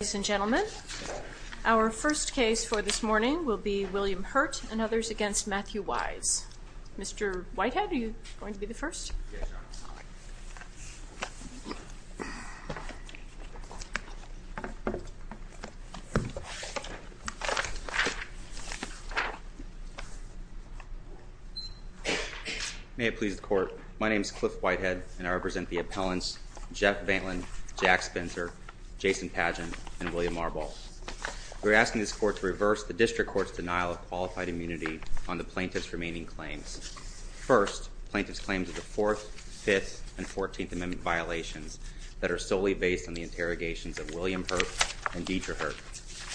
Ladies and gentlemen, our first case for this morning will be William Hurt and others against Matthew Wise. Mr. Whitehead, are you going to be the first? Yes, Your Honor. May it please the court, my name is Cliff Whitehead, and I represent the appellants Jeff Vantland, Jack Spencer, Jason Pagin, and William Marbol. We're asking this court to reverse the district court's denial of qualified immunity on the plaintiff's remaining claims. First, plaintiff's claims of the Fourth, Fifth, and Fourteenth Amendment violations that are solely based on the interrogations of William Hurt and Dieter Hurt,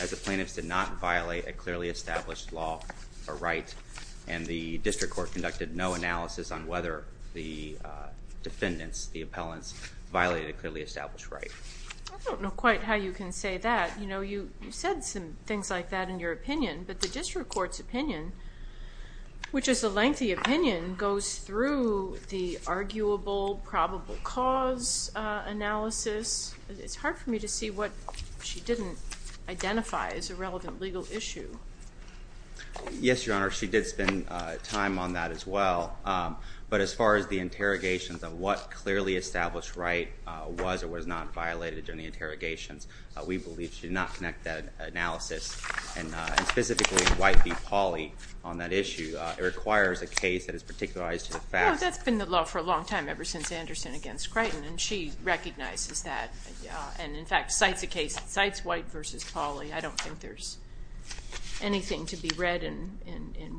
as the plaintiffs did not violate a clearly established law or right, and the district court conducted no analysis on whether the defendants, the appellants, violated a clearly established right. I don't know quite how you can say that. You know, you said some things like that in your opinion, but the district court's opinion, which is a lengthy opinion, goes through the arguable, probable cause analysis. It's hard for me to see what she didn't identify as a relevant legal issue. Yes, Your Honor, she did spend time on that as well. But as far as the interrogations of what clearly established right was or was not violated during the interrogations, we believe she did not connect that analysis, and specifically White v. Pauley, on that issue. It requires a case that is particularized to the facts. That's been the law for a long time, ever since Anderson against Creighton, and she recognizes that. And in fact, cites White versus Pauley. I don't think there's anything to be read in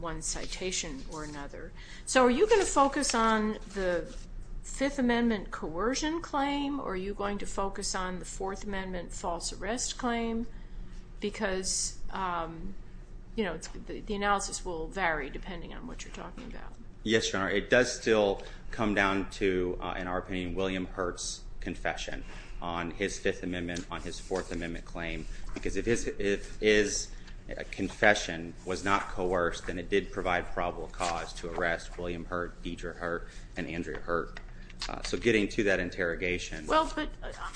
one citation or another. So are you going to focus on the Fifth Amendment coercion claim, or are you going to focus on the Fourth Amendment false arrest claim? Because the analysis will vary, depending on what you're talking about. Yes, Your Honor, it does still come down to, in our opinion, William Hurt's confession on his Fifth Amendment, on his Fourth Amendment claim. Because if his confession was not coerced, then it did provide probable cause to arrest William Hurt, Deidre Hurt, and Andrea Hurt. So getting to that interrogation. Well, but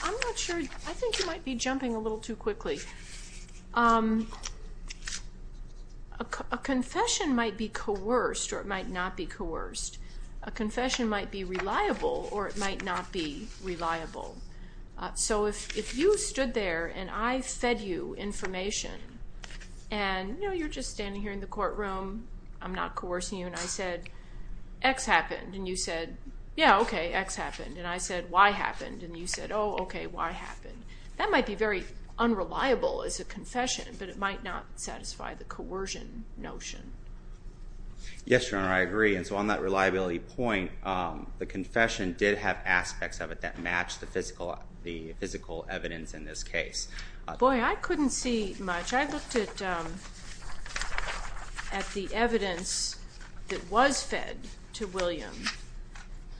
I'm not sure. I think you might be jumping a little too quickly. A confession might be coerced, or it might not be coerced. A confession might be reliable, or it might not be reliable. So if you stood there, and I fed you information, and you're just standing here in the courtroom, I'm not coercing you, and I said, X happened. And you said, yeah, OK, X happened. And I said, Y happened. And you said, oh, OK, Y happened. That might be very unreliable as a confession, but it might not satisfy the coercion notion. Yes, Your Honor, I agree. And so on that reliability point, the confession did have aspects of it that matched the physical evidence in this case. Boy, I couldn't see much. I looked at the evidence that was fed to William.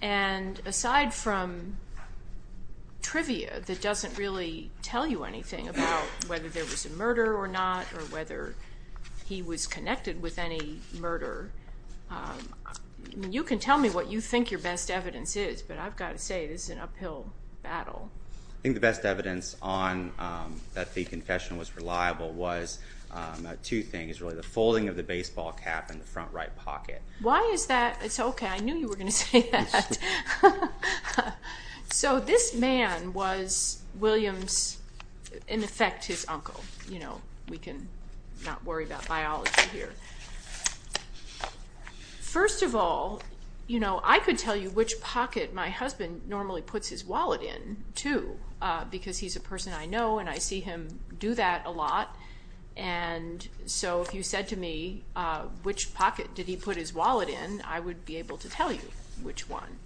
And aside from trivia that doesn't really tell you anything about whether there was a murder or not, or whether he was connected with any murder, you can tell me what you think your best evidence is. But I've got to say, this is an uphill battle. I think the best evidence that the confession was reliable was two things, really. The folding of the baseball cap in the front right pocket. Why is that? It's OK, I knew you were going to say that. So this man was William's, in effect, his uncle. We can not worry about biology here. First of all, I could tell you which pocket my husband normally puts his wallet in, too, because he's a person I know, and I see him do that a lot. And so if you said to me, which pocket did he put his wallet in, I would be able to tell you which one.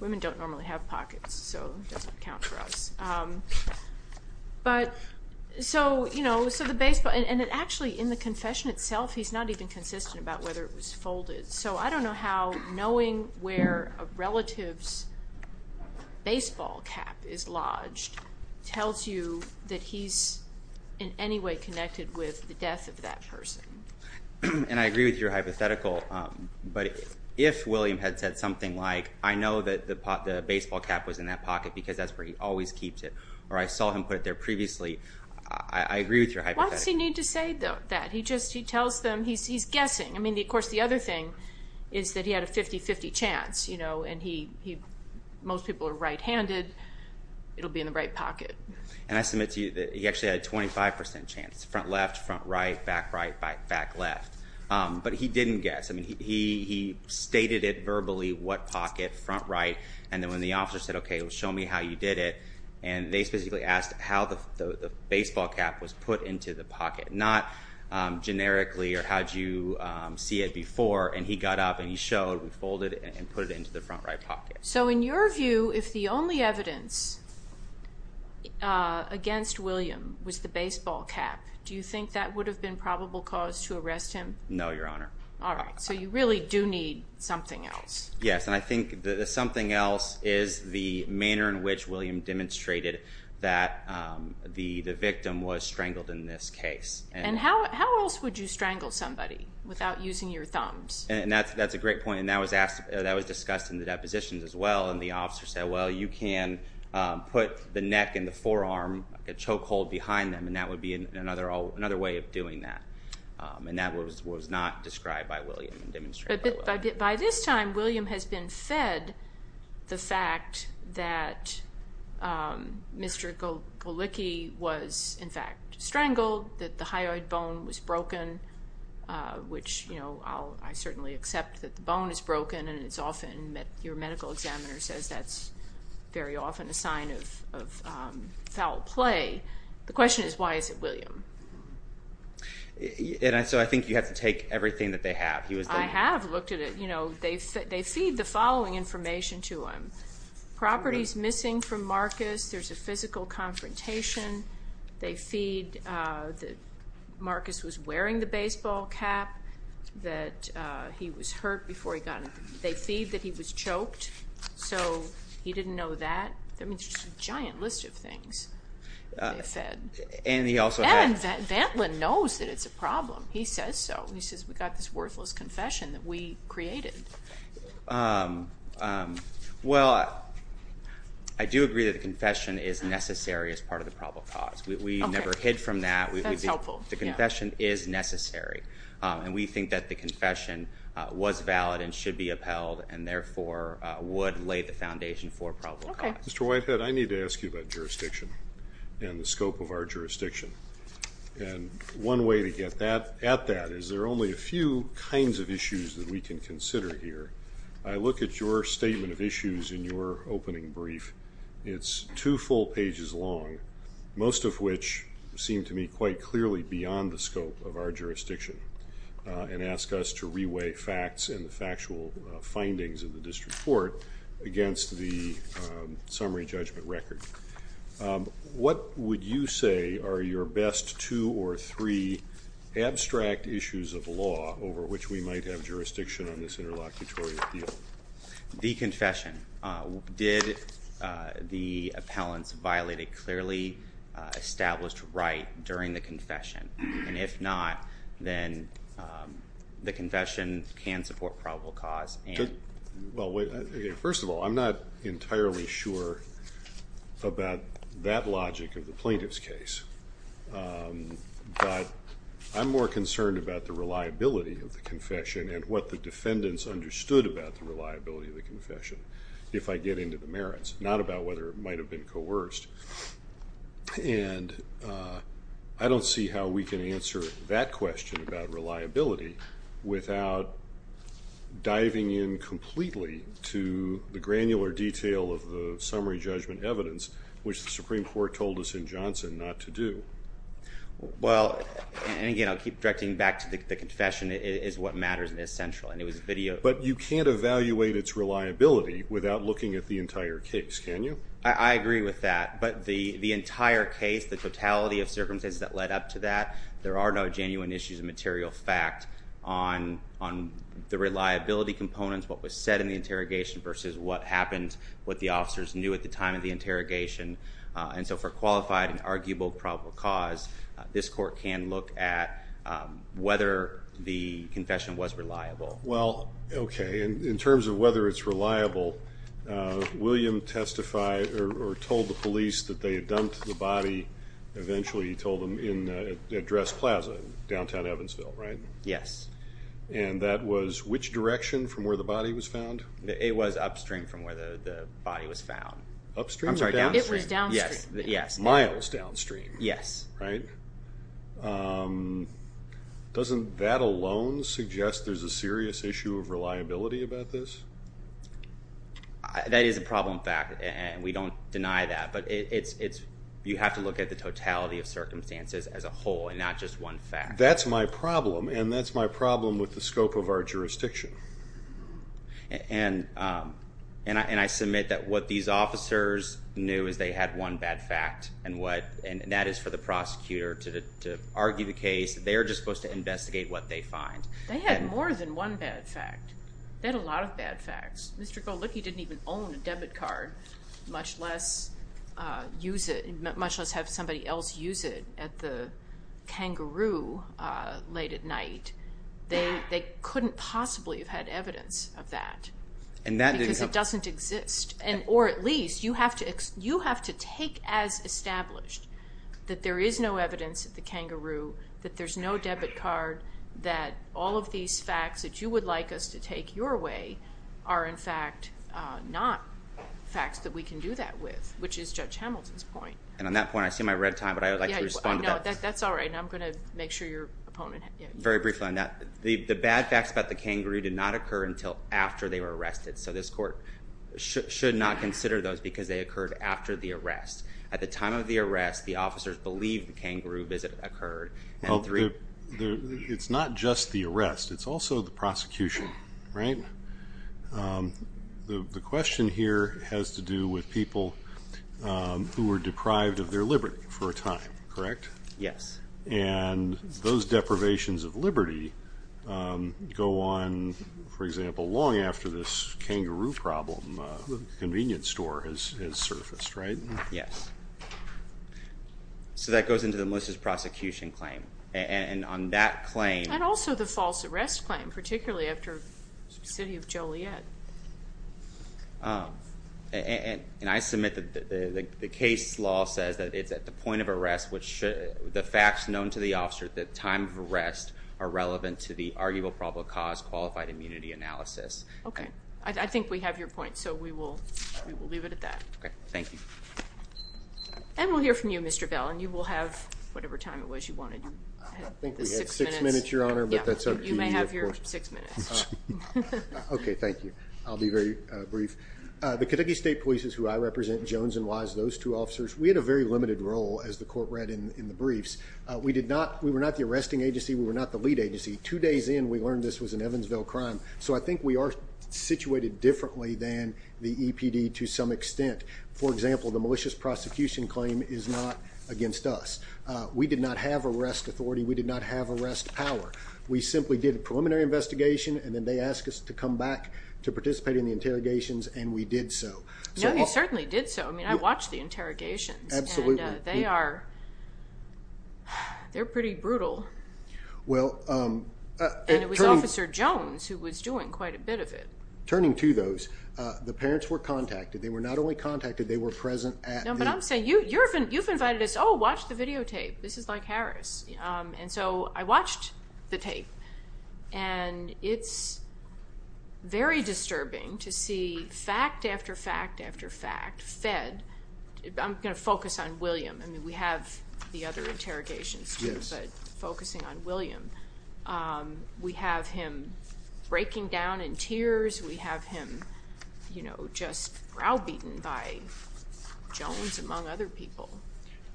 Women don't normally have pockets, so it doesn't count for us. And actually, in the confession itself, he's not even consistent about whether it was folded. So I don't know how knowing where a relative's baseball cap is lodged tells you that he's in any way connected with the death of that person. And I agree with your hypothetical, but if William had said something like, I know that the baseball cap was in that pocket because that's where he always keeps it, or I saw him put it there previously, I agree with your hypothetical. Why does he need to say that? He just tells them, he's guessing. Of course, the other thing is that he had a 50-50 chance, and most people are right-handed. It'll be in the right pocket. And I submit to you that he actually had a 25% chance. Front left, front right, back right, back left. But he didn't guess. He stated it verbally, what pocket, front right. And then when the officer said, OK, show me how you did it, and they specifically asked how the baseball cap was put into the pocket. Not generically, or how'd you see it before. And he got up and he showed, we folded it and put it into the front right pocket. So in your view, if the only evidence against William was the baseball cap, do you think that would have been probable cause to arrest him? No, Your Honor. All right, so you really do need something else. Yes, and I think the something else is the manner in which William demonstrated that the victim was strangled in this case. And how else would you strangle somebody without using your thumbs? And that's a great point, and that was discussed in the depositions as well. And the officer said, well, you can put the neck and the forearm, a choke hold behind them, and that would be another way of doing that. And that was not described by William and demonstrated well. By this time, William has been fed the fact that Mr. Golicki was, in fact, strangled, that the hyoid bone was broken, which I certainly accept that the bone is broken. And it's often, your medical examiner says that's very often a sign of foul play. The question is, why is it William? So I think you have to take everything that they have. I have looked at it. They feed the following information to him. Properties missing from Marcus, there's a physical confrontation. They feed that Marcus was wearing the baseball cap, that he was hurt before he got in. They feed that he was choked. So he didn't know that. I mean, it's just a giant list of things that they fed. And he also had. And Vantlin knows that it's a problem. He says so. He says, we got this worthless confession that we created. Well, I do agree that the confession is necessary as part of the probable cause. We never hid from that. That's helpful. The confession is necessary. And we think that the confession was valid and should be upheld, and therefore would lay the foundation for probable cause. Mr. Whitehead, I need to ask you about jurisdiction and the scope of our jurisdiction. And one way to get at that is there are only a few kinds of issues that we can consider here. I look at your statement of issues in your opening brief. It's two full pages long, most of which seem to me quite clearly beyond the scope of our jurisdiction, and ask us to reweigh facts and the factual findings of the district court against the summary judgment record. What would you say are your best two or three abstract issues of law over which we might have jurisdiction on this interlocutory appeal? The confession. Did the appellants violate a clearly established right during the confession? And if not, then the confession can support probable cause. Well, first of all, I'm not entirely sure about that logic of the plaintiff's case. But I'm more concerned about the reliability of the confession and what the defendants understood about the reliability of the confession if I get into the merits, not about whether it might have been coerced. And I don't see how we can answer that question about reliability without diving in completely to the granular detail of the summary judgment evidence, which the Supreme Court told us in Johnson not to do. Well, and again, I'll keep directing back to the confession is what matters and is central. And it was videoed. But you can't evaluate its reliability without looking at the entire case, can you? I agree with that. But the entire case, the totality of circumstances that led up to that, there are no genuine issues of material fact on the reliability components, what was said in the interrogation versus what happened, what the officers knew at the time of the interrogation. And so for qualified and arguable probable cause, this court can look at whether the confession was reliable. Well, OK. And in terms of whether it's reliable, William testified or told the police that they had dumped the body, eventually he told them, in a dress plaza in downtown Evansville, right? Yes. And that was which direction from where the body was found? It was upstream from where the body was found. Upstream or downstream? It was downstream. Yes. Yes. Miles downstream. Yes. Right? Doesn't that alone suggest there's a serious issue of reliability about this? That is a problem fact. And we don't deny that. But you have to look at the totality of circumstances as a whole and not just one fact. That's my problem. And that's my problem with the scope of our jurisdiction. And I submit that what these officers knew is they had one bad fact. And that is for the prosecutor to argue the case. They're just supposed to investigate what they find. They had more than one bad fact. They had a lot of bad facts. Mr. Golicki didn't even own a debit card, much less have somebody else use it at the kangaroo late at night. They couldn't possibly have had evidence of that. And that didn't help. Because it doesn't exist. Or at least, you have to take as established that there is no evidence at the kangaroo, that there's no debit card, that all of these facts that you would like us to take your way are, in fact, not facts that we can do that with, which is Judge Hamilton's point. And on that point, I see my red time. But I would like to respond to that. No, that's all right. And I'm going to make sure your opponent. Very briefly on that. The bad facts about the kangaroo did not occur until after they were arrested. So this court should not consider those, because they occurred after the arrest. At the time of the arrest, the officers believed the kangaroo visit occurred. It's not just the arrest. It's also the prosecution, right? The question here has to do with people who were deprived of their liberty for a time, correct? Yes. And those deprivations of liberty go on, for example, long after this kangaroo problem convenience store has surfaced, right? Yes. So that goes into the Melissa's prosecution claim. And on that claim. And also the false arrest claim, particularly after the city of Joliet. And I submit that the case law says that it's at the point of arrest, which the facts known to the officer at the time of arrest are relevant to the arguable probable cause qualified immunity analysis. OK. I think we have your point. So we will leave it at that. OK. Thank you. And we'll hear from you, Mr. Bell. And you will have whatever time it was you wanted. I think we have six minutes, Your Honor. But that's up to you, of course. You may have your six minutes. OK, thank you. I'll be very brief. The Kentucky State Police's, who I represent, Jones and Wise, those two officers, we had a very limited role, as the court read in the briefs. We did not, we were not the arresting agency. We were not the lead agency. Two days in, we learned this was an Evansville crime. So I think we are situated differently than the EPD to some extent. For example, the malicious prosecution claim is not against us. We did not have arrest authority. We did not have arrest power. We simply did a preliminary investigation. And then they asked us to come back to participate in the interrogations. And we did so. No, you certainly did so. I mean, I watched the interrogations. Absolutely. And they are, they're pretty brutal. Well, it turned out. And it was Officer Jones who was doing quite a bit of it. Turning to those, the parents were contacted. They were not only contacted, they were present at the. No, but I'm saying, you've invited us, oh, watch the videotape. This is like Harris. And so I watched the tape. And it's very disturbing to see fact after fact after fact fed. I'm going to focus on William. I mean, we have the other interrogations too, but focusing on William. We have him breaking down in tears. We have him just browbeaten by Jones, among other people.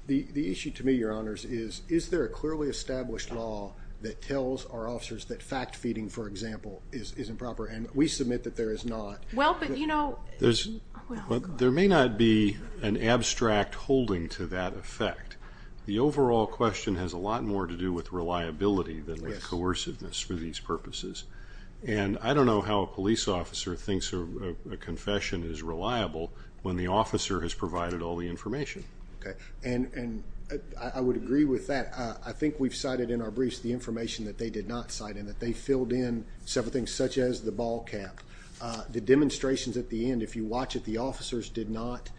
The issue to me, Your Honors, is is there a clearly established law that tells our officers that fact feeding, for example, is improper? And we submit that there is not. Well, but you know. But there may not be an abstract holding to that effect. The overall question has a lot more to do with reliability than coerciveness for these purposes. And I don't know how a police officer thinks a confession is reliable when the officer has provided all the information. And I would agree with that. I think we've cited in our briefs the information that they did not cite and that they filled in several things, such as the ball cap. The demonstrations at the end, if you watch it, the officers did not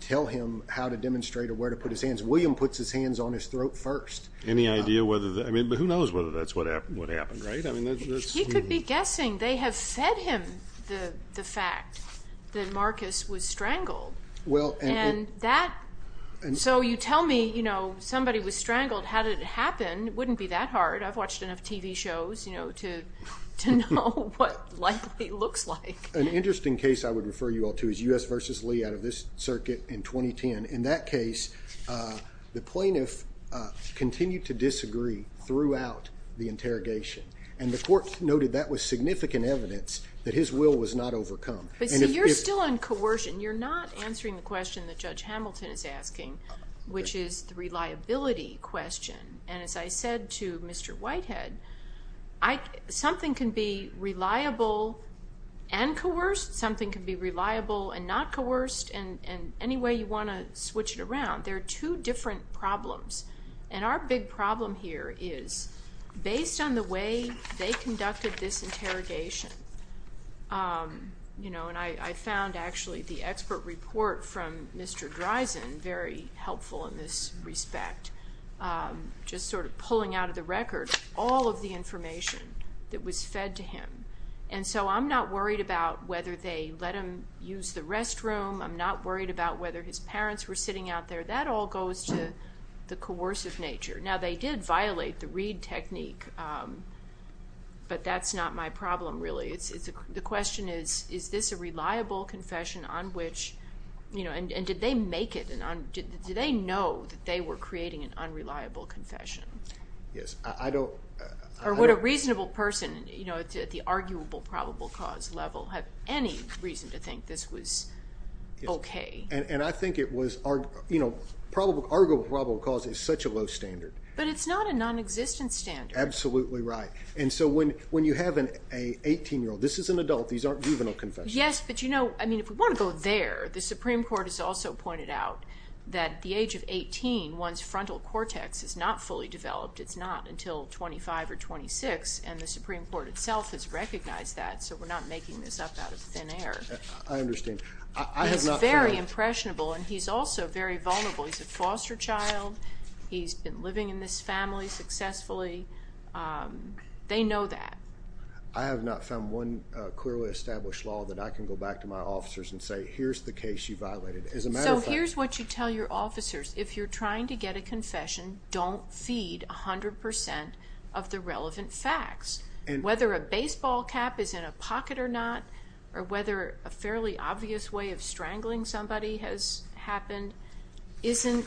tell him how to demonstrate or where to put his hands. William puts his hands on his throat first. Any idea whether that, I mean, but who knows whether that's what happened, right? I mean, that's. He could be guessing. They have fed him the fact that Marcus was strangled. Well, and. And that, so you tell me, you know, somebody was strangled. How did it happen? Wouldn't be that hard. I've watched enough TV shows, you know, to know what likely looks like. An interesting case I would refer you all to is US versus Lee out of this circuit in 2010. In that case, the plaintiff continued to disagree throughout the interrogation. And the court noted that was significant evidence that his will was not overcome. But see, you're still on coercion. You're not answering the question that Judge Hamilton is asking, which is the reliability question. And as I said to Mr. Whitehead, something can be reliable and coerced. Something can be reliable and not coerced. And any way you want to switch it around, there are two different problems. And our big problem here is, based on the way they conducted this interrogation, you know, and I found actually the expert report from Mr. Dreisen very helpful in this respect, just sort of pulling out of the record all of the information that was fed to him. And so I'm not worried about whether they let him use the restroom. I'm not worried about whether his parents were sitting out there. That all goes to the coercive nature. Now, they did violate the read technique. But that's not my problem, really. The question is, is this a reliable confession on which, you know, and did they make it? Did they know that they were creating an unreliable confession? Yes, I don't. Or would a reasonable person, you know, at the arguable probable cause level, have any reason to think this was OK? And I think it was, you know, arguable probable cause is such a low standard. But it's not a non-existent standard. Absolutely right. And so when you have an 18-year-old, this is an adult. These aren't juvenile confessions. Yes, but you know, I mean, if we want to go there, the Supreme Court has also pointed out that the age of 18, one's frontal cortex is not fully developed. It's not until 25 or 26. And the Supreme Court itself has recognized that. So we're not making this up out of thin air. I understand. I have not found. He's very impressionable. And he's also very vulnerable. He's a foster child. He's been living in this family successfully. They know that. I have not found one clearly established law that I can go back to my officers and say, here's the case you violated. As a matter of fact. So here's what you tell your officers. If you're trying to get a confession, don't feed 100% of the relevant facts. Whether a baseball cap is in a pocket or not, or whether a fairly obvious way of strangling somebody has happened isn't,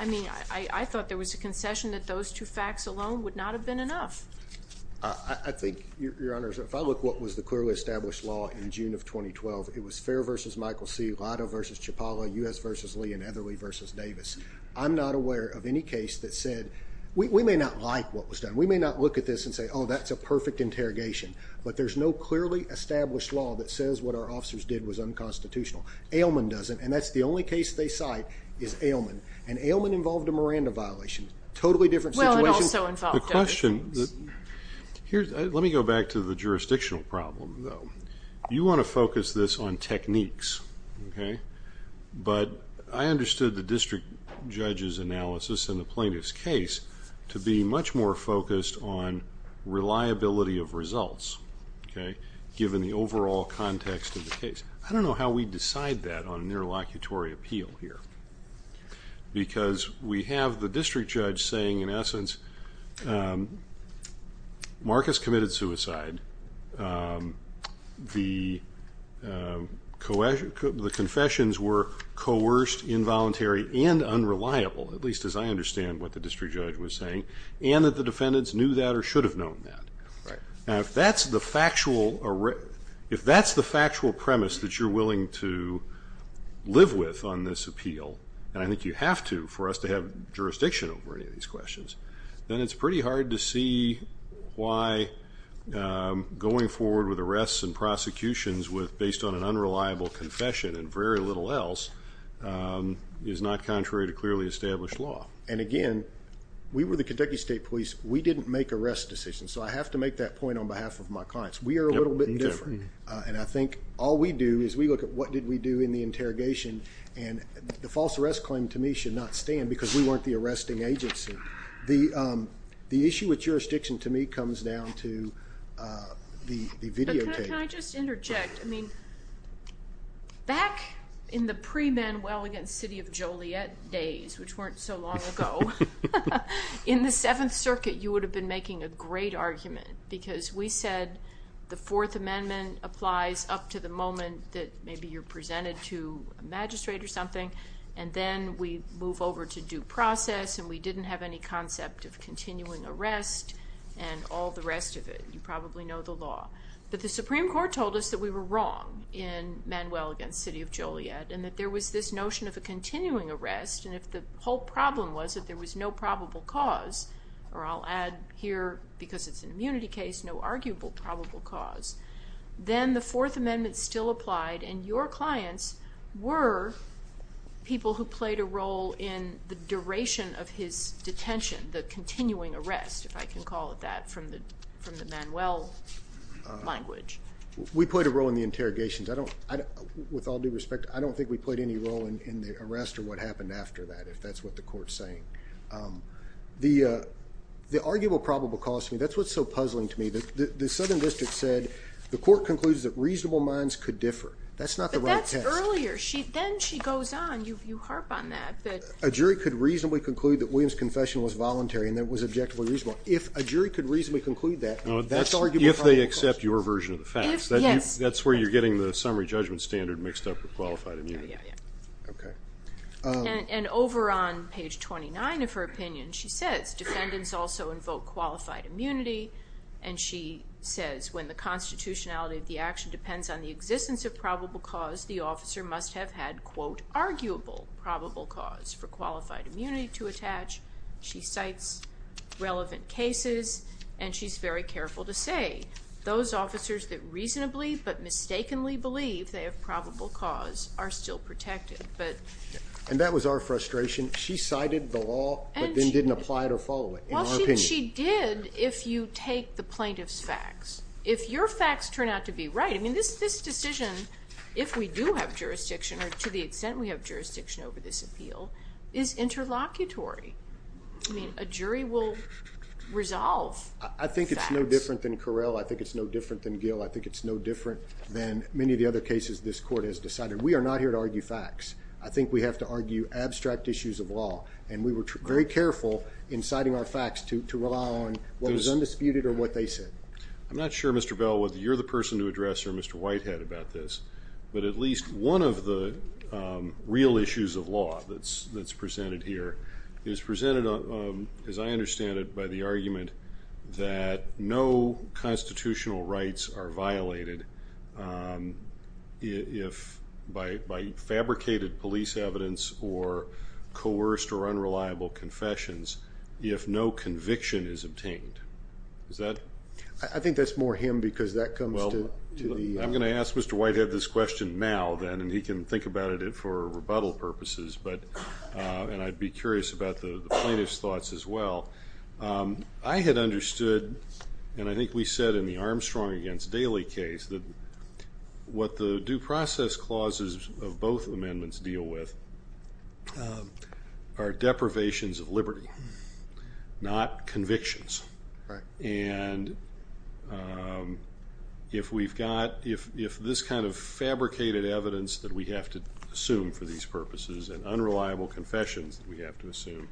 I mean, I thought there was a concession that those two facts alone would not have been enough. I think, Your Honors, if I look what was the clearly established law in June of 2012, it was Fair v. Michael C., Lido v. Chapala, U.S. v. Lee, and Etherly v. Davis. I'm not aware of any case that said, we may not like what was done. We may not look at this and say, oh, that's a perfect interrogation. But there's no clearly established law that says what our officers did was unconstitutional. Ailman doesn't. And that's the only case they cite is Ailman. And Ailman involved a Miranda violation. Totally different situation. Well, it also involved Davis. My question, let me go back to the jurisdictional problem, though. You want to focus this on techniques. But I understood the district judge's analysis in the plaintiff's case to be much more focused on reliability of results, given the overall context of the case. I don't know how we decide that on a nearlocutory appeal here. Because we have the district judge saying, in essence, Marcus committed suicide. The confessions were coerced, involuntary, and unreliable, at least as I understand what the district judge was saying. And that the defendants knew that or should have known that. Now, if that's the factual premise that you're willing to live with on this appeal, and I think you have to for us to have jurisdiction over any of these questions, then it's pretty hard to see why going forward with arrests and prosecutions based on an unreliable confession and very little else is not contrary to clearly established law. And again, we were the Kentucky State Police. We didn't make arrest decisions. So I have to make that point on behalf of my clients. We are a little bit different. And I think all we do is we look at what did we do in the interrogation. And the false arrest claim, to me, should not stand because we weren't the arresting agency. The issue with jurisdiction, to me, comes down to the videotape. Can I just interject? I mean, back in the pre-Manuel against City of Joliet days, which weren't so long ago, in the Seventh Circuit, you would have been making a great argument. to the moment that maybe you're presented to a magistrate or something. And then we move over to due process. And we didn't have any concept of continuing arrest and all the rest of it. You probably know the law. But the Supreme Court told us that we were wrong in Manuel against City of Joliet and that there was this notion of a continuing arrest. And if the whole problem was that there was no probable cause, or I'll add here, because it's an immunity case, no arguable probable cause, then the Fourth Amendment still applied. And your clients were people who played a role in the duration of his detention, the continuing arrest, if I can call it that, from the Manuel language. We played a role in the interrogations. With all due respect, I don't think we played any role in the arrest or what happened after that, if that's what the court's saying. The arguable probable cause to me, that's what's so puzzling to me. The Southern District said, the court concludes that reasonable minds could differ. That's not the right test. But that's earlier. Then she goes on. You harp on that. A jury could reasonably conclude that William's confession was voluntary and that it was objectively reasonable. If a jury could reasonably conclude that, that's arguable probable cause. If they accept your version of the facts. Yes. That's where you're getting the summary judgment standard mixed up with qualified immunity. Yeah, yeah, yeah. OK. And over on page 29 of her opinion, she says, defendants also invoke qualified immunity. And she says, when the constitutionality of the action depends on the existence of probable cause, the officer must have had, quote, arguable probable cause for qualified immunity to attach. She cites relevant cases. And she's very careful to say, those officers that reasonably but mistakenly believe they have probable cause are still protected. And that was our frustration. She cited the law, but then didn't apply it or follow it, in her opinion. She did if you take the plaintiff's facts. If your facts turn out to be right, I mean, this decision, if we do have jurisdiction, or to the extent we have jurisdiction over this appeal, is interlocutory. A jury will resolve facts. I think it's no different than Correll. I think it's no different than Gill. I think it's no different than many of the other cases this court has decided. We are not here to argue facts. I think we have to argue abstract issues of law. And we were very careful in citing our facts to rely on what was undisputed or what they said. I'm not sure, Mr. Bell, whether you're the person to address or Mr. Whitehead about this. But at least one of the real issues of law that's presented here is presented, as I understand it, by the argument that no constitutional rights are violated by fabricated police evidence or coerced or unreliable confessions if no conviction is obtained. Is that? I think that's more him, because that comes to the- I'm going to ask Mr. Whitehead this question now, then. And he can think about it for rebuttal purposes. And I'd be curious about the plaintiff's thoughts as well. I had understood, and I think we said in the Armstrong against Daley case, that what the due process clauses of both amendments deal with are deprivations of liberty, not convictions. And if this kind of fabricated evidence that we have to assume for these purposes and unreliable confessions that we have to assume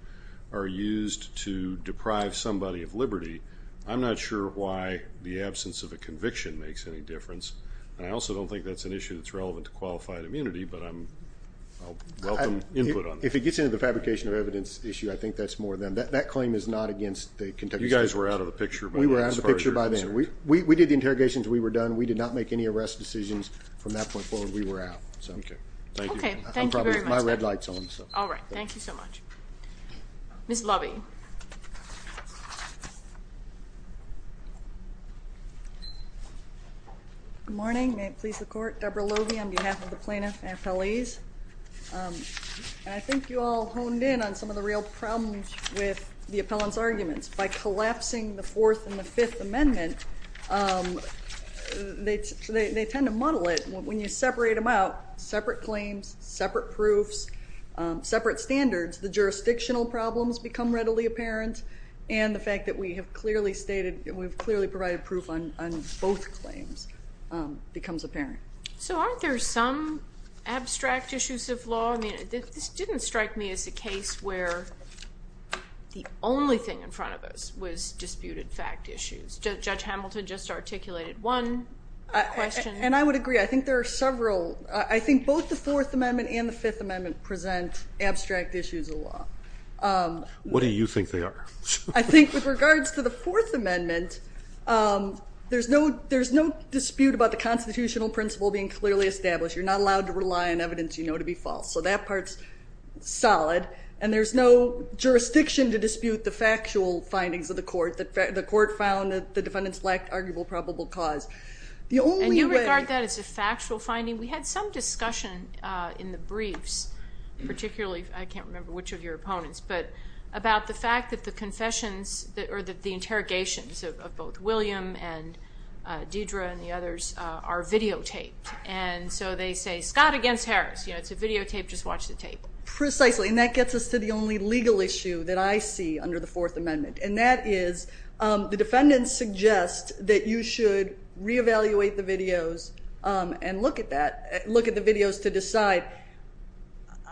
are used to deprive somebody of liberty, I'm not sure why the absence of a conviction makes any difference. And I also don't think that's an issue that's relevant to qualified immunity. But I'll welcome input on that. If it gets into the fabrication of evidence issue, I think that's more them. That claim is not against the Kentucky State Court. You guys were out of the picture by that, as far as you're concerned. We were out of the picture by then. We did the interrogations. We were done. We did not make any arrest decisions. From that point forward, we were out. OK. Thank you. OK, thank you very much. All right, thank you so much. Ms. Lovey. Good morning. May it please the court. Deborah Lovey, on behalf of the plaintiff and my appellees. And I think you all honed in on some of the real problems with the appellant's arguments. By collapsing the Fourth and the Fifth Amendment, they tend to muddle it. When you separate them out, separate claims, separate proofs, separate standards, the jurisdictional problems become readily apparent. And the fact that we have clearly provided proof on both claims becomes apparent. So aren't there some abstract issues of law? I mean, this didn't strike me as a case where the only thing in front of us was disputed fact issues. Judge Hamilton just articulated one question. And I would agree. I think there are several. I think both the Fourth Amendment and the Fifth Amendment present abstract issues of law. What do you think they are? I think with regards to the Fourth Amendment, there's no dispute about the constitutional principle being clearly established. You're not allowed to rely on evidence you know to be false. So that part's solid. And there's no jurisdiction to dispute the factual findings of the court. The court found that the defendants lacked arguable probable cause. And you regard that as a factual finding? We had some discussion in the briefs, particularly, I can't remember which of your opponents, but about the fact that the interrogations of both William and Deidre and the others are videotaped. And so they say, Scott against Harris. It's a videotape. Just watch the tape. Precisely. And that gets us to the only legal issue that I see under the Fourth Amendment. And that is, the defendants suggest that you should re-evaluate the videos and look at that, look at the videos to decide.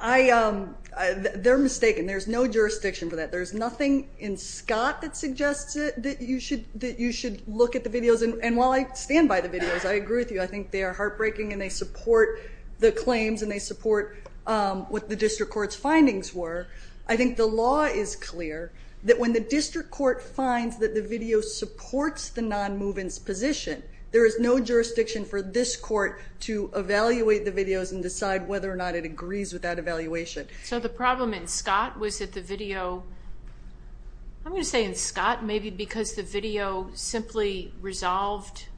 They're mistaken. There's no jurisdiction for that. There's nothing in Scott that suggests that you should look at the videos. And while I stand by the videos, I agree with you. I think they are heartbreaking and they support the claims and they support what the district court's findings were. I think the law is clear that when the district court finds that the video supports the non-movement's position, there is no jurisdiction for this court to evaluate the videos and decide whether or not it agrees with that evaluation. So the problem in Scott was that the video, I'm going to say in Scott, maybe because the video simply resolved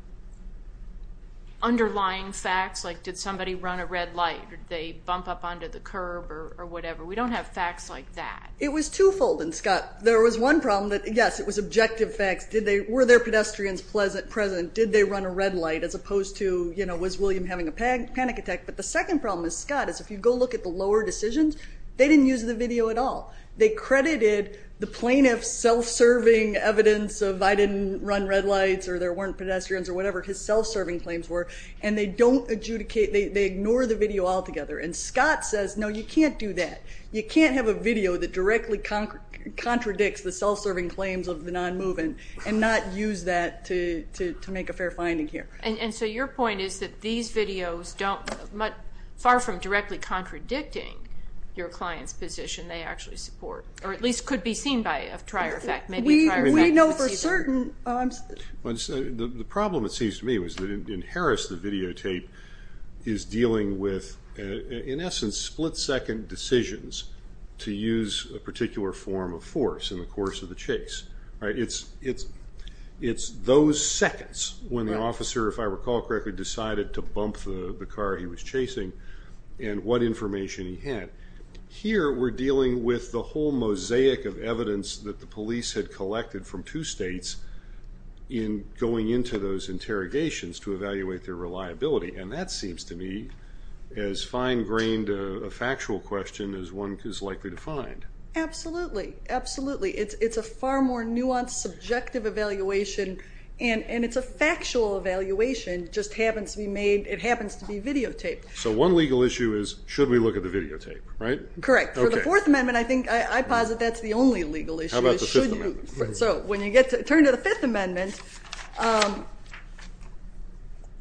underlying facts, like did somebody run a red light, or did they bump up onto the curb, or whatever. We don't have facts like that. It was twofold in Scott. There was one problem that, yes, it was objective facts. Were there pedestrians present? Did they run a red light? As opposed to, was William having a panic attack? But the second problem in Scott is if you go look at the lower decisions, they didn't use the video at all. They credited the plaintiff's self-serving evidence of I didn't run red lights, or there weren't pedestrians, or whatever his self-serving claims were. And they don't adjudicate, they ignore the video altogether. And Scott says, no, you can't do that. You can't have a video that directly contradicts the self-serving claims of the non-movement and not use that to make a fair finding here. And so your point is that these videos don't, far from directly contradicting your client's position, they actually support, or at least could be seen by a trier effect. Maybe a trier effect is deceiving. We know for certain. The problem, it seems to me, was that in Harris, the videotape is dealing with, in essence, split-second decisions to use a particular form of force in the course of the chase. It's those seconds when the officer, if I recall correctly, decided to bump the car he was chasing and what information he had. Here, we're dealing with the whole mosaic of evidence that the police had collected from two states in going into those interrogations to evaluate their reliability. And that seems to me as fine-grained a factual question as one is likely to find. Absolutely. Absolutely. It's a far more nuanced, subjective evaluation. And it's a factual evaluation. It happens to be videotaped. So one legal issue is, should we look at the videotape, right? Correct. For the Fourth Amendment, I think, I posit that's the only legal issue. How about the Fifth Amendment? So when you get to turn to the Fifth Amendment,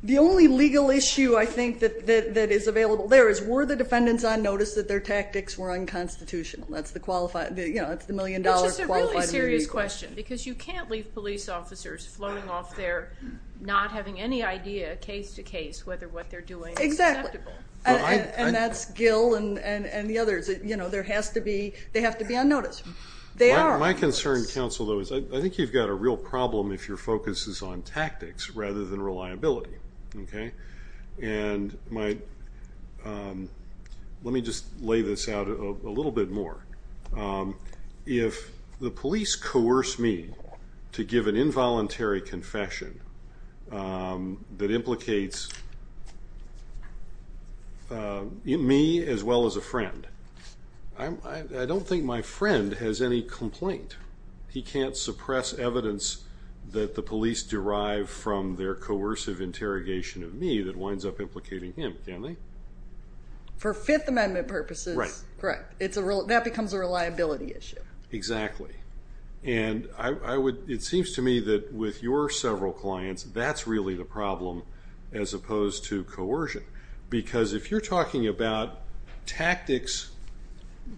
the only legal issue, I think, that is available there is, were the defendants on notice that their tactics were unconstitutional? That's the million-dollar, qualified million-dollar issue. Which is a really serious question, because you can't leave police officers floating off there, not having any idea, case to case, whether what they're doing is acceptable. And that's Gill and the others. There has to be, they have to be on notice. They are on notice. My concern, counsel, though, is I think you've got a real problem if your focus is on tactics rather than reliability. And let me just lay this out a little bit more. If the police coerce me to give an involuntary confession that implicates me as well as a friend, I don't think my friend has any complaint. He can't suppress evidence that the police derive from their coercive interrogation of me that winds up implicating him, can they? For Fifth Amendment purposes, correct. That becomes a reliability issue. Exactly. And it seems to me that with your several clients, that's really the problem as opposed to coercion. Because if you're talking about tactics,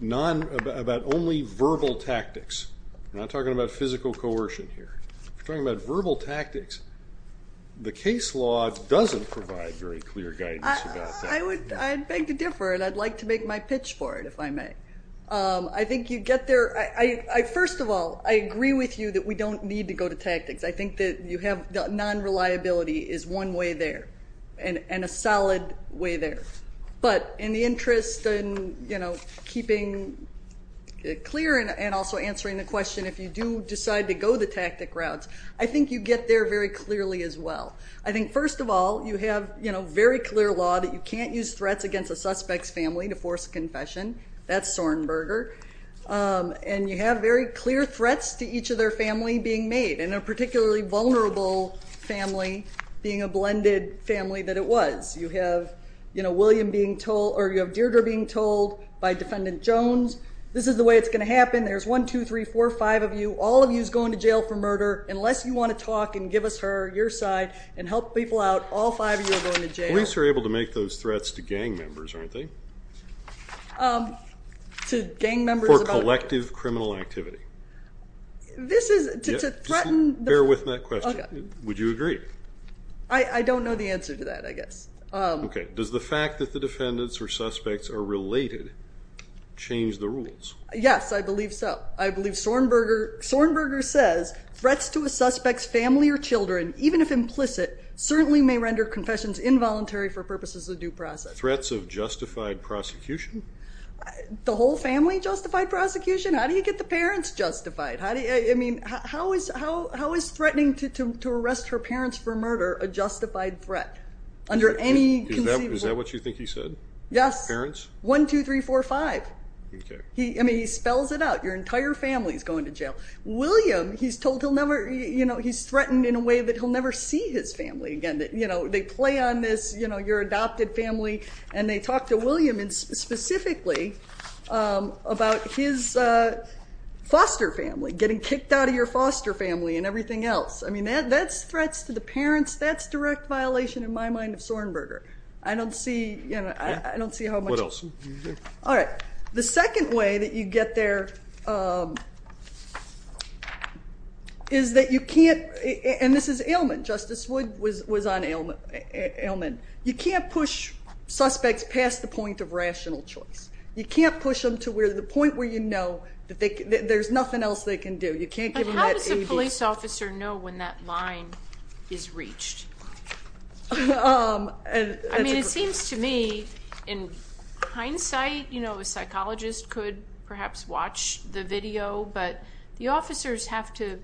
about only verbal tactics, we're not talking about physical coercion here, we're talking about verbal tactics, the case law doesn't provide very clear guidance about that. I beg to differ, and I'd like to make my pitch for it, if I may. I think you get there. First of all, I agree with you that we don't need to go to tactics. I think that you have non-reliability is one way there, and a solid way there. But in the interest in keeping it clear and also answering the question, if you do decide to go the tactic routes, I think you get there very clearly as well. I think, first of all, you have very clear law that you can't use threats against a suspect's family to force a confession. That's Sornberger. And you have very clear threats to each of their family being made, and a particularly vulnerable family being a blended family that it was. You have William being told, or you have Deirdre being told by Defendant Jones, this is the way it's going to happen. There's one, two, three, four, five of you. All of you's going to jail for murder, unless you want to talk and give us your side and help people out, all five of you are going to jail. Police are able to make those threats to gang members, aren't they? To gang members about what? For collective criminal activity. This is to threaten the- Bear with me on that question. Would you agree? I don't know the answer to that, I guess. Does the fact that the defendants or suspects are related change the rules? Yes, I believe so. I believe Sornberger says, threats to a suspect's family or children, even if implicit, certainly may render confessions involuntary for purposes of due process. Threats of justified prosecution? The whole family justified prosecution? How do you get the parents justified? How is threatening to arrest her parents for murder a justified threat? Under any conceivable- Is that what you think he said? Yes. Parents? One, two, three, four, five. I mean, he spells it out. Your entire family's going to jail. William, he's threatened in a way that he'll never see his family again. They play on this, your adopted family, and they talk to William specifically about his foster family, getting kicked out of your foster family and everything else. I mean, that's threats to the parents. That's direct violation, in my mind, of Sornberger. I don't see how much- What else? All right. The second way that you get there is that you can't- and this is Ailman. Justice Wood was on Ailman. You can't push suspects past the point of rational choice. You can't push them to the point where you know that there's nothing else they can do. You can't give them that 80. But how does a police officer know when that line is reached? I mean, it seems to me, in hindsight, a psychologist could perhaps watch the video. But the officers have to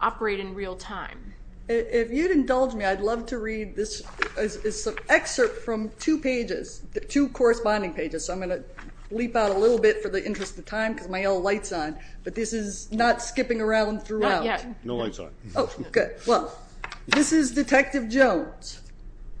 operate in real time. If you'd indulge me, I'd love to read this excerpt from two pages, two corresponding pages. So I'm going to leap out a little bit for the interest of time, because my old light's on. But this is not skipping around throughout. No light's on. Oh, good. Well, this is Detective Jones.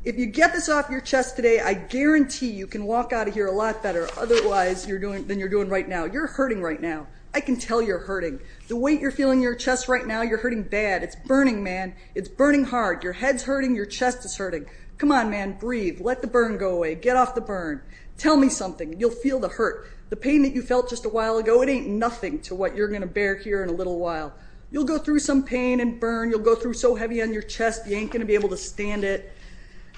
If you get this off your chest today, I guarantee you can walk out of here a lot better otherwise than you're doing right now. You're hurting right now. I can tell you're hurting. The way you're feeling your chest right now, you're hurting bad. It's burning, man. It's burning hard. Your head's hurting. Your chest is hurting. Come on, man. Breathe. Let the burn go away. Get off the burn. Tell me something. You'll feel the hurt. The pain that you felt just a while ago, it ain't nothing to what you're going to bear here in a little while. You'll go through some pain and burn. You'll go through so heavy on your chest, you ain't going to be able to stand it.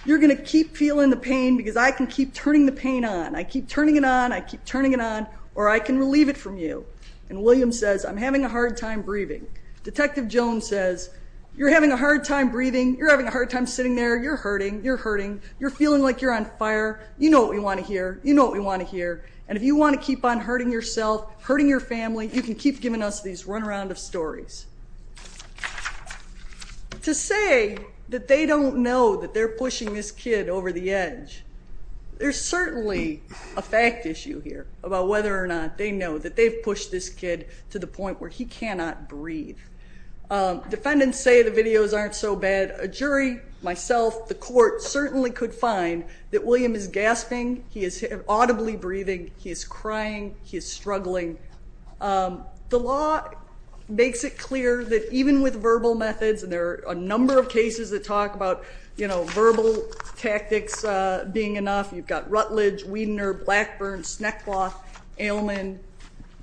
You're going to keep feeling the pain, because I can keep turning the pain on. I keep turning it on. I keep turning it on. Or I can relieve it from you. And William says, I'm having a hard time breathing. Detective Jones says, you're having a hard time breathing. You're having a hard time sitting there. You're hurting. You're hurting. You're feeling like you're on fire. You know what we want to hear. You know what we want to hear. And if you want to keep on hurting yourself, hurting your family, you can keep giving us these one round of stories. To say that they don't know that they're pushing this kid over the edge, there's a fact issue here about whether or not they know that they've pushed this kid to the point where he cannot breathe. Defendants say the videos aren't so bad. A jury, myself, the court certainly could find that William is gasping. He is audibly breathing. He is crying. He is struggling. The law makes it clear that even with verbal methods, and there are a number of cases that talk about verbal tactics being enough. You've got Rutledge, Wiedner, Blackburn, Snackcloth, Ailman.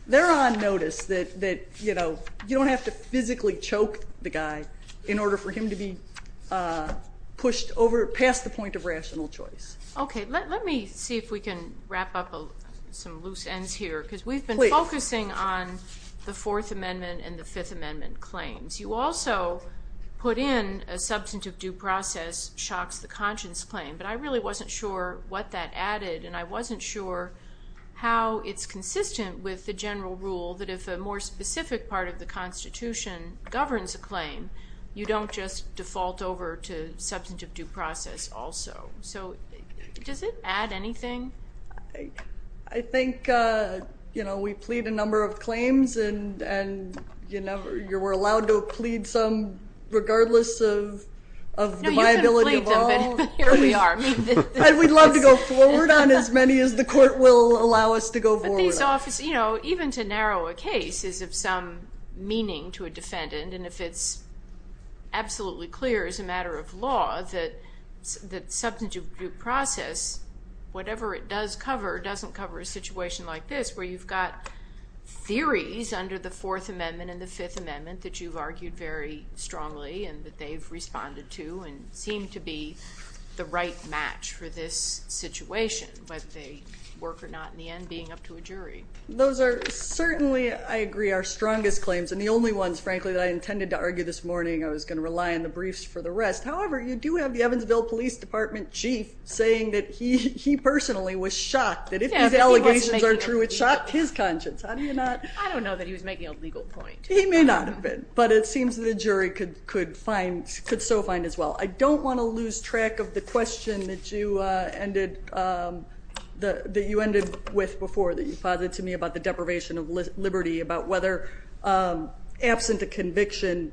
They're on notice that you don't have to physically choke the guy in order for him to be pushed over past the point of rational choice. OK, let me see if we can wrap up some loose ends here. Because we've been focusing on the Fourth Amendment and the Fifth Amendment claims. You also put in a substantive due process shocks the conscience claim. But I really wasn't sure what that added. And I wasn't sure how it's consistent with the general rule that if a more specific part of the Constitution governs a claim, you don't just default over to substantive due process also. So does it add anything? I think we plead a number of claims. And you were allowed to plead some, regardless of the viability of all. Here we are. We'd love to go forward on as many as the court will allow us to go forward on. Even to narrow a case is of some meaning to a defendant. And if it's absolutely clear as a matter of law that substantive due process, whatever it does cover, doesn't cover a situation like this, where you've got theories under the Fourth Amendment and the Fifth Amendment that you've argued very strongly and that they've responded to and seem to be the right match for this situation, whether they work or not in the end, being up to a jury. Those are certainly, I agree, our strongest claims. And the only ones, frankly, that I intended to argue this morning, I was going to rely on the briefs for the rest. However, you do have the Evansville Police Department chief saying that he personally was shocked that if these allegations are true, it shocked his conscience. How do you not? I don't know that he was making a legal point. He may not have been. But it seems that a jury could so find as well. I don't want to lose track of the question that you ended with before that you posited to me about the deprivation of liberty, about whether, absent a conviction,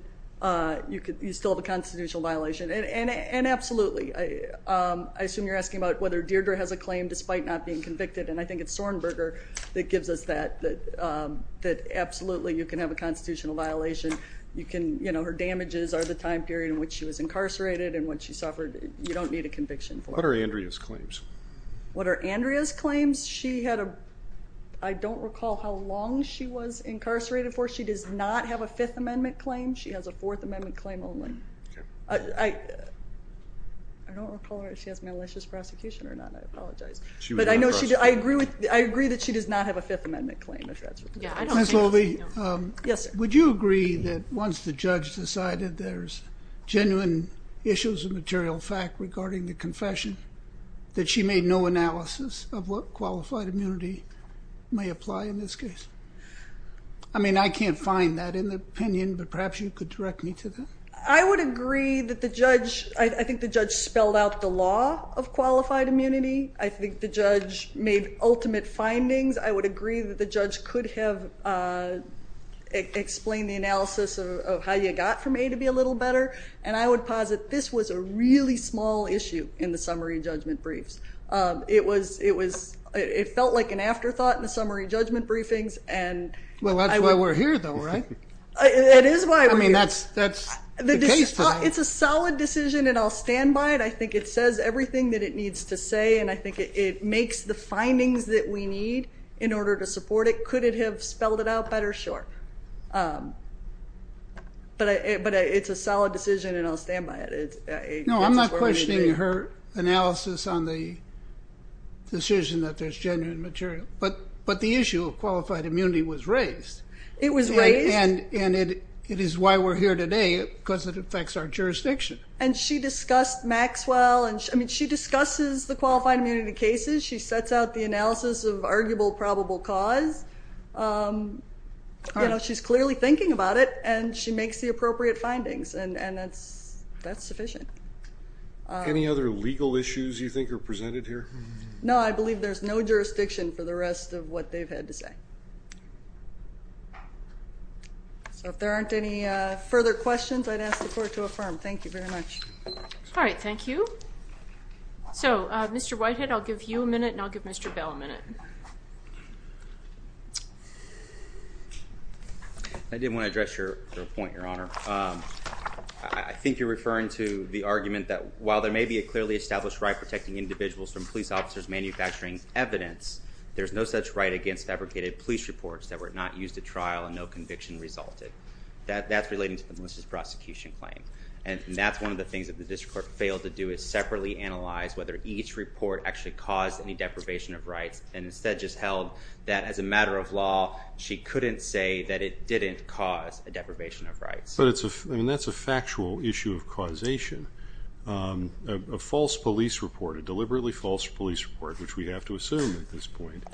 you still have a constitutional violation. And absolutely, I assume you're asking about whether Deirdre has a claim despite not being convicted. And I think it's Sorenberger that gives us that absolutely, you can have a constitutional violation. Her damages are the time period in which she was incarcerated and when she suffered. You don't need a conviction for it. What are Andrea's claims? What are Andrea's claims? I don't recall how long she was incarcerated for. She does not have a Fifth Amendment claim. She has a Fourth Amendment claim only. I don't recall whether she has malicious prosecution or not. I apologize. But I agree that she does not have a Fifth Amendment claim, if that's what you're saying. Ms. Loewe, would you agree that once the judge decided there's genuine issues of material fact regarding the confession, that she made no analysis of what qualified immunity may apply in this case? I mean, I can't find that in the opinion, but perhaps you could direct me to that. I would agree that the judge, I think the judge spelled out the law of qualified immunity. I think the judge made ultimate findings. I would agree that the judge could have explained the analysis of how you got from A to B a little better. And I would posit this was a really small issue in the summary judgment briefs. It was, it was, it felt like an afterthought in the summary judgment briefings, and I would. Well, that's why we're here, though, right? It is why we're here. I mean, that's the case today. It's a solid decision, and I'll stand by it. I think it says everything that it needs to say, and I think it makes the findings that we need in order to support it. Could it have spelled it out better? Sure. But it's a solid decision, and I'll stand by it. No, I'm not questioning her analysis on the decision that there's genuine material, but the issue of qualified immunity was raised. It was raised? And it is why we're here today, because it affects our jurisdiction. And she discussed Maxwell, and I mean, she discusses the qualified immunity cases. She sets out the analysis of arguable probable cause. You know, she's clearly thinking about it, and she makes the appropriate findings, and that's sufficient. Any other legal issues you think are presented here? No, I believe there's no jurisdiction for the rest of what they've had to say. So if there aren't any further questions, I'd ask the court to affirm. Thank you very much. All right, thank you. So, Mr. Whitehead, I'll give you a minute, and I'll give Mr. Bell a minute. I did want to address your point, Your Honor. I think you're referring to the argument that while there may be a clearly established right protecting individuals from police officers manufacturing evidence, there's no such right against fabricated police reports that were not used at trial and no conviction resulted. That's relating to the Melissa's prosecution claim. And that's one of the things that the district court was able to do is separately analyze whether each report actually caused any deprivation of rights, and instead just held that as a matter of law, she couldn't say that it didn't cause a deprivation of rights. But that's a factual issue of causation. A false police report, a deliberately false police report, which we have to assume at this point,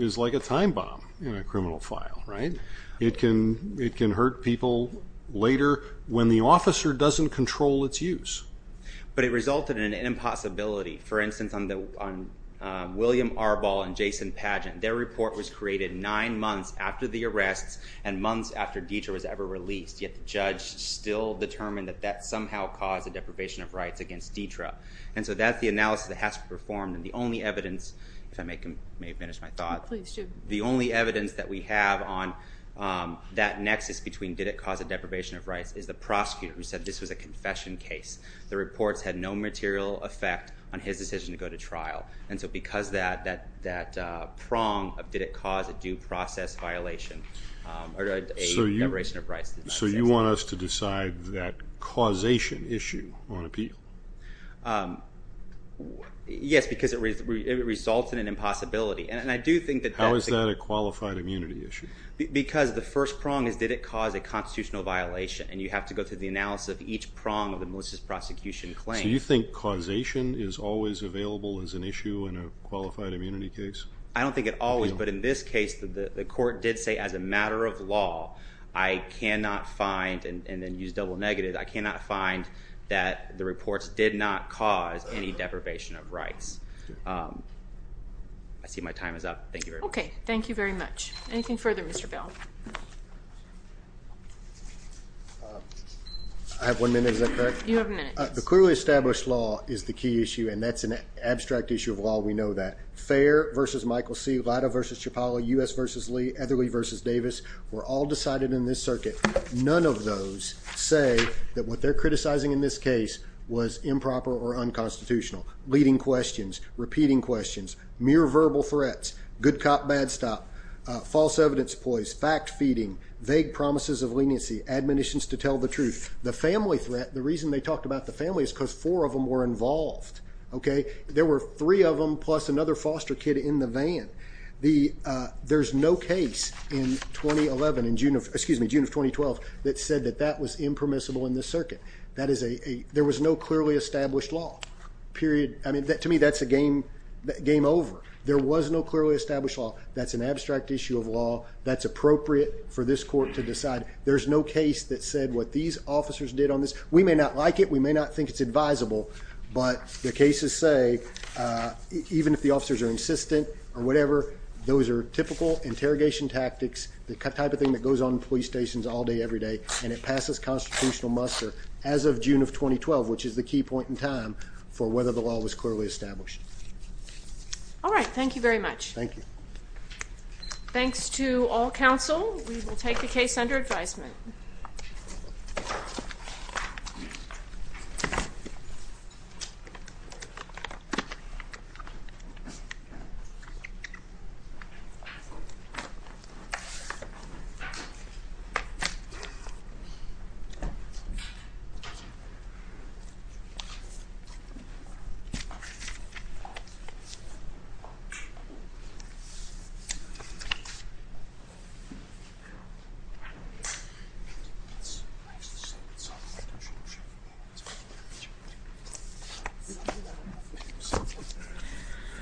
is like a time bomb in a criminal file, right? It can hurt people later when the officer doesn't control its use. But it resulted in an impossibility. For instance, on William Arbol and Jason Pagent, their report was created nine months after the arrests and months after DITRA was ever released, yet the judge still determined that that somehow caused a deprivation of rights against DITRA. And so that's the analysis that has to be performed. And the only evidence, if I may finish my thought, the only evidence that we have on that nexus between did it cause a deprivation of rights is the prosecutor who said this was a confession case. The reports had no material effect on his decision to go to trial. And so because that prong of did it cause a due process violation or a deprivation of rights does not exist. So you want us to decide that causation issue on appeal? Yes, because it resulted in impossibility. And I do think that that's a- How is that a qualified immunity issue? Because the first prong is, did it cause a constitutional violation? And you have to go through the analysis of each prong of the malicious prosecution claim. So you think causation is always available as an issue in a qualified immunity case? I don't think it always, but in this case, the court did say, as a matter of law, I cannot find, and then use double negative, I cannot find that the reports did not cause any deprivation of rights. I see my time is up. Thank you very much. Okay, thank you very much. Anything further, Mr. Vail? I have one minute, is that correct? You have a minute. The clearly established law is the key issue, and that's an abstract issue of law, we know that. Fair versus Michael C., Lido versus Chapala, U.S. versus Lee, Etherly versus Davis were all decided in this circuit. None of those say that what they're criticizing in this case was improper or unconstitutional. Leading questions, repeating questions, mere verbal threats, good cop, bad stop, false evidence poised, fact feeding, vague promises of leniency, admonitions to tell the truth. The family threat, the reason they talked about the family is because four of them were involved, okay? There were three of them plus another foster kid in the van. There's no case in 2011, excuse me, June of 2012, that said that that was impermissible in this circuit. There was no clearly established law, period. I mean, to me, that's a game over. There was no clearly established law. That's an abstract issue of law. That's appropriate for this court to decide. There's no case that said what these officers did on this. We may not like it, we may not think it's advisable, but the cases say, even if the officers are insistent or whatever, those are typical interrogation tactics, the type of thing that goes on in police stations all day, every day, and it passes constitutional muster as of June of 2012, which is the key point in time for whether the law was clearly established. All right, thank you very much. Thank you. Thanks to all counsel, we will take the case under advisement. Thank you. It's nice to see you.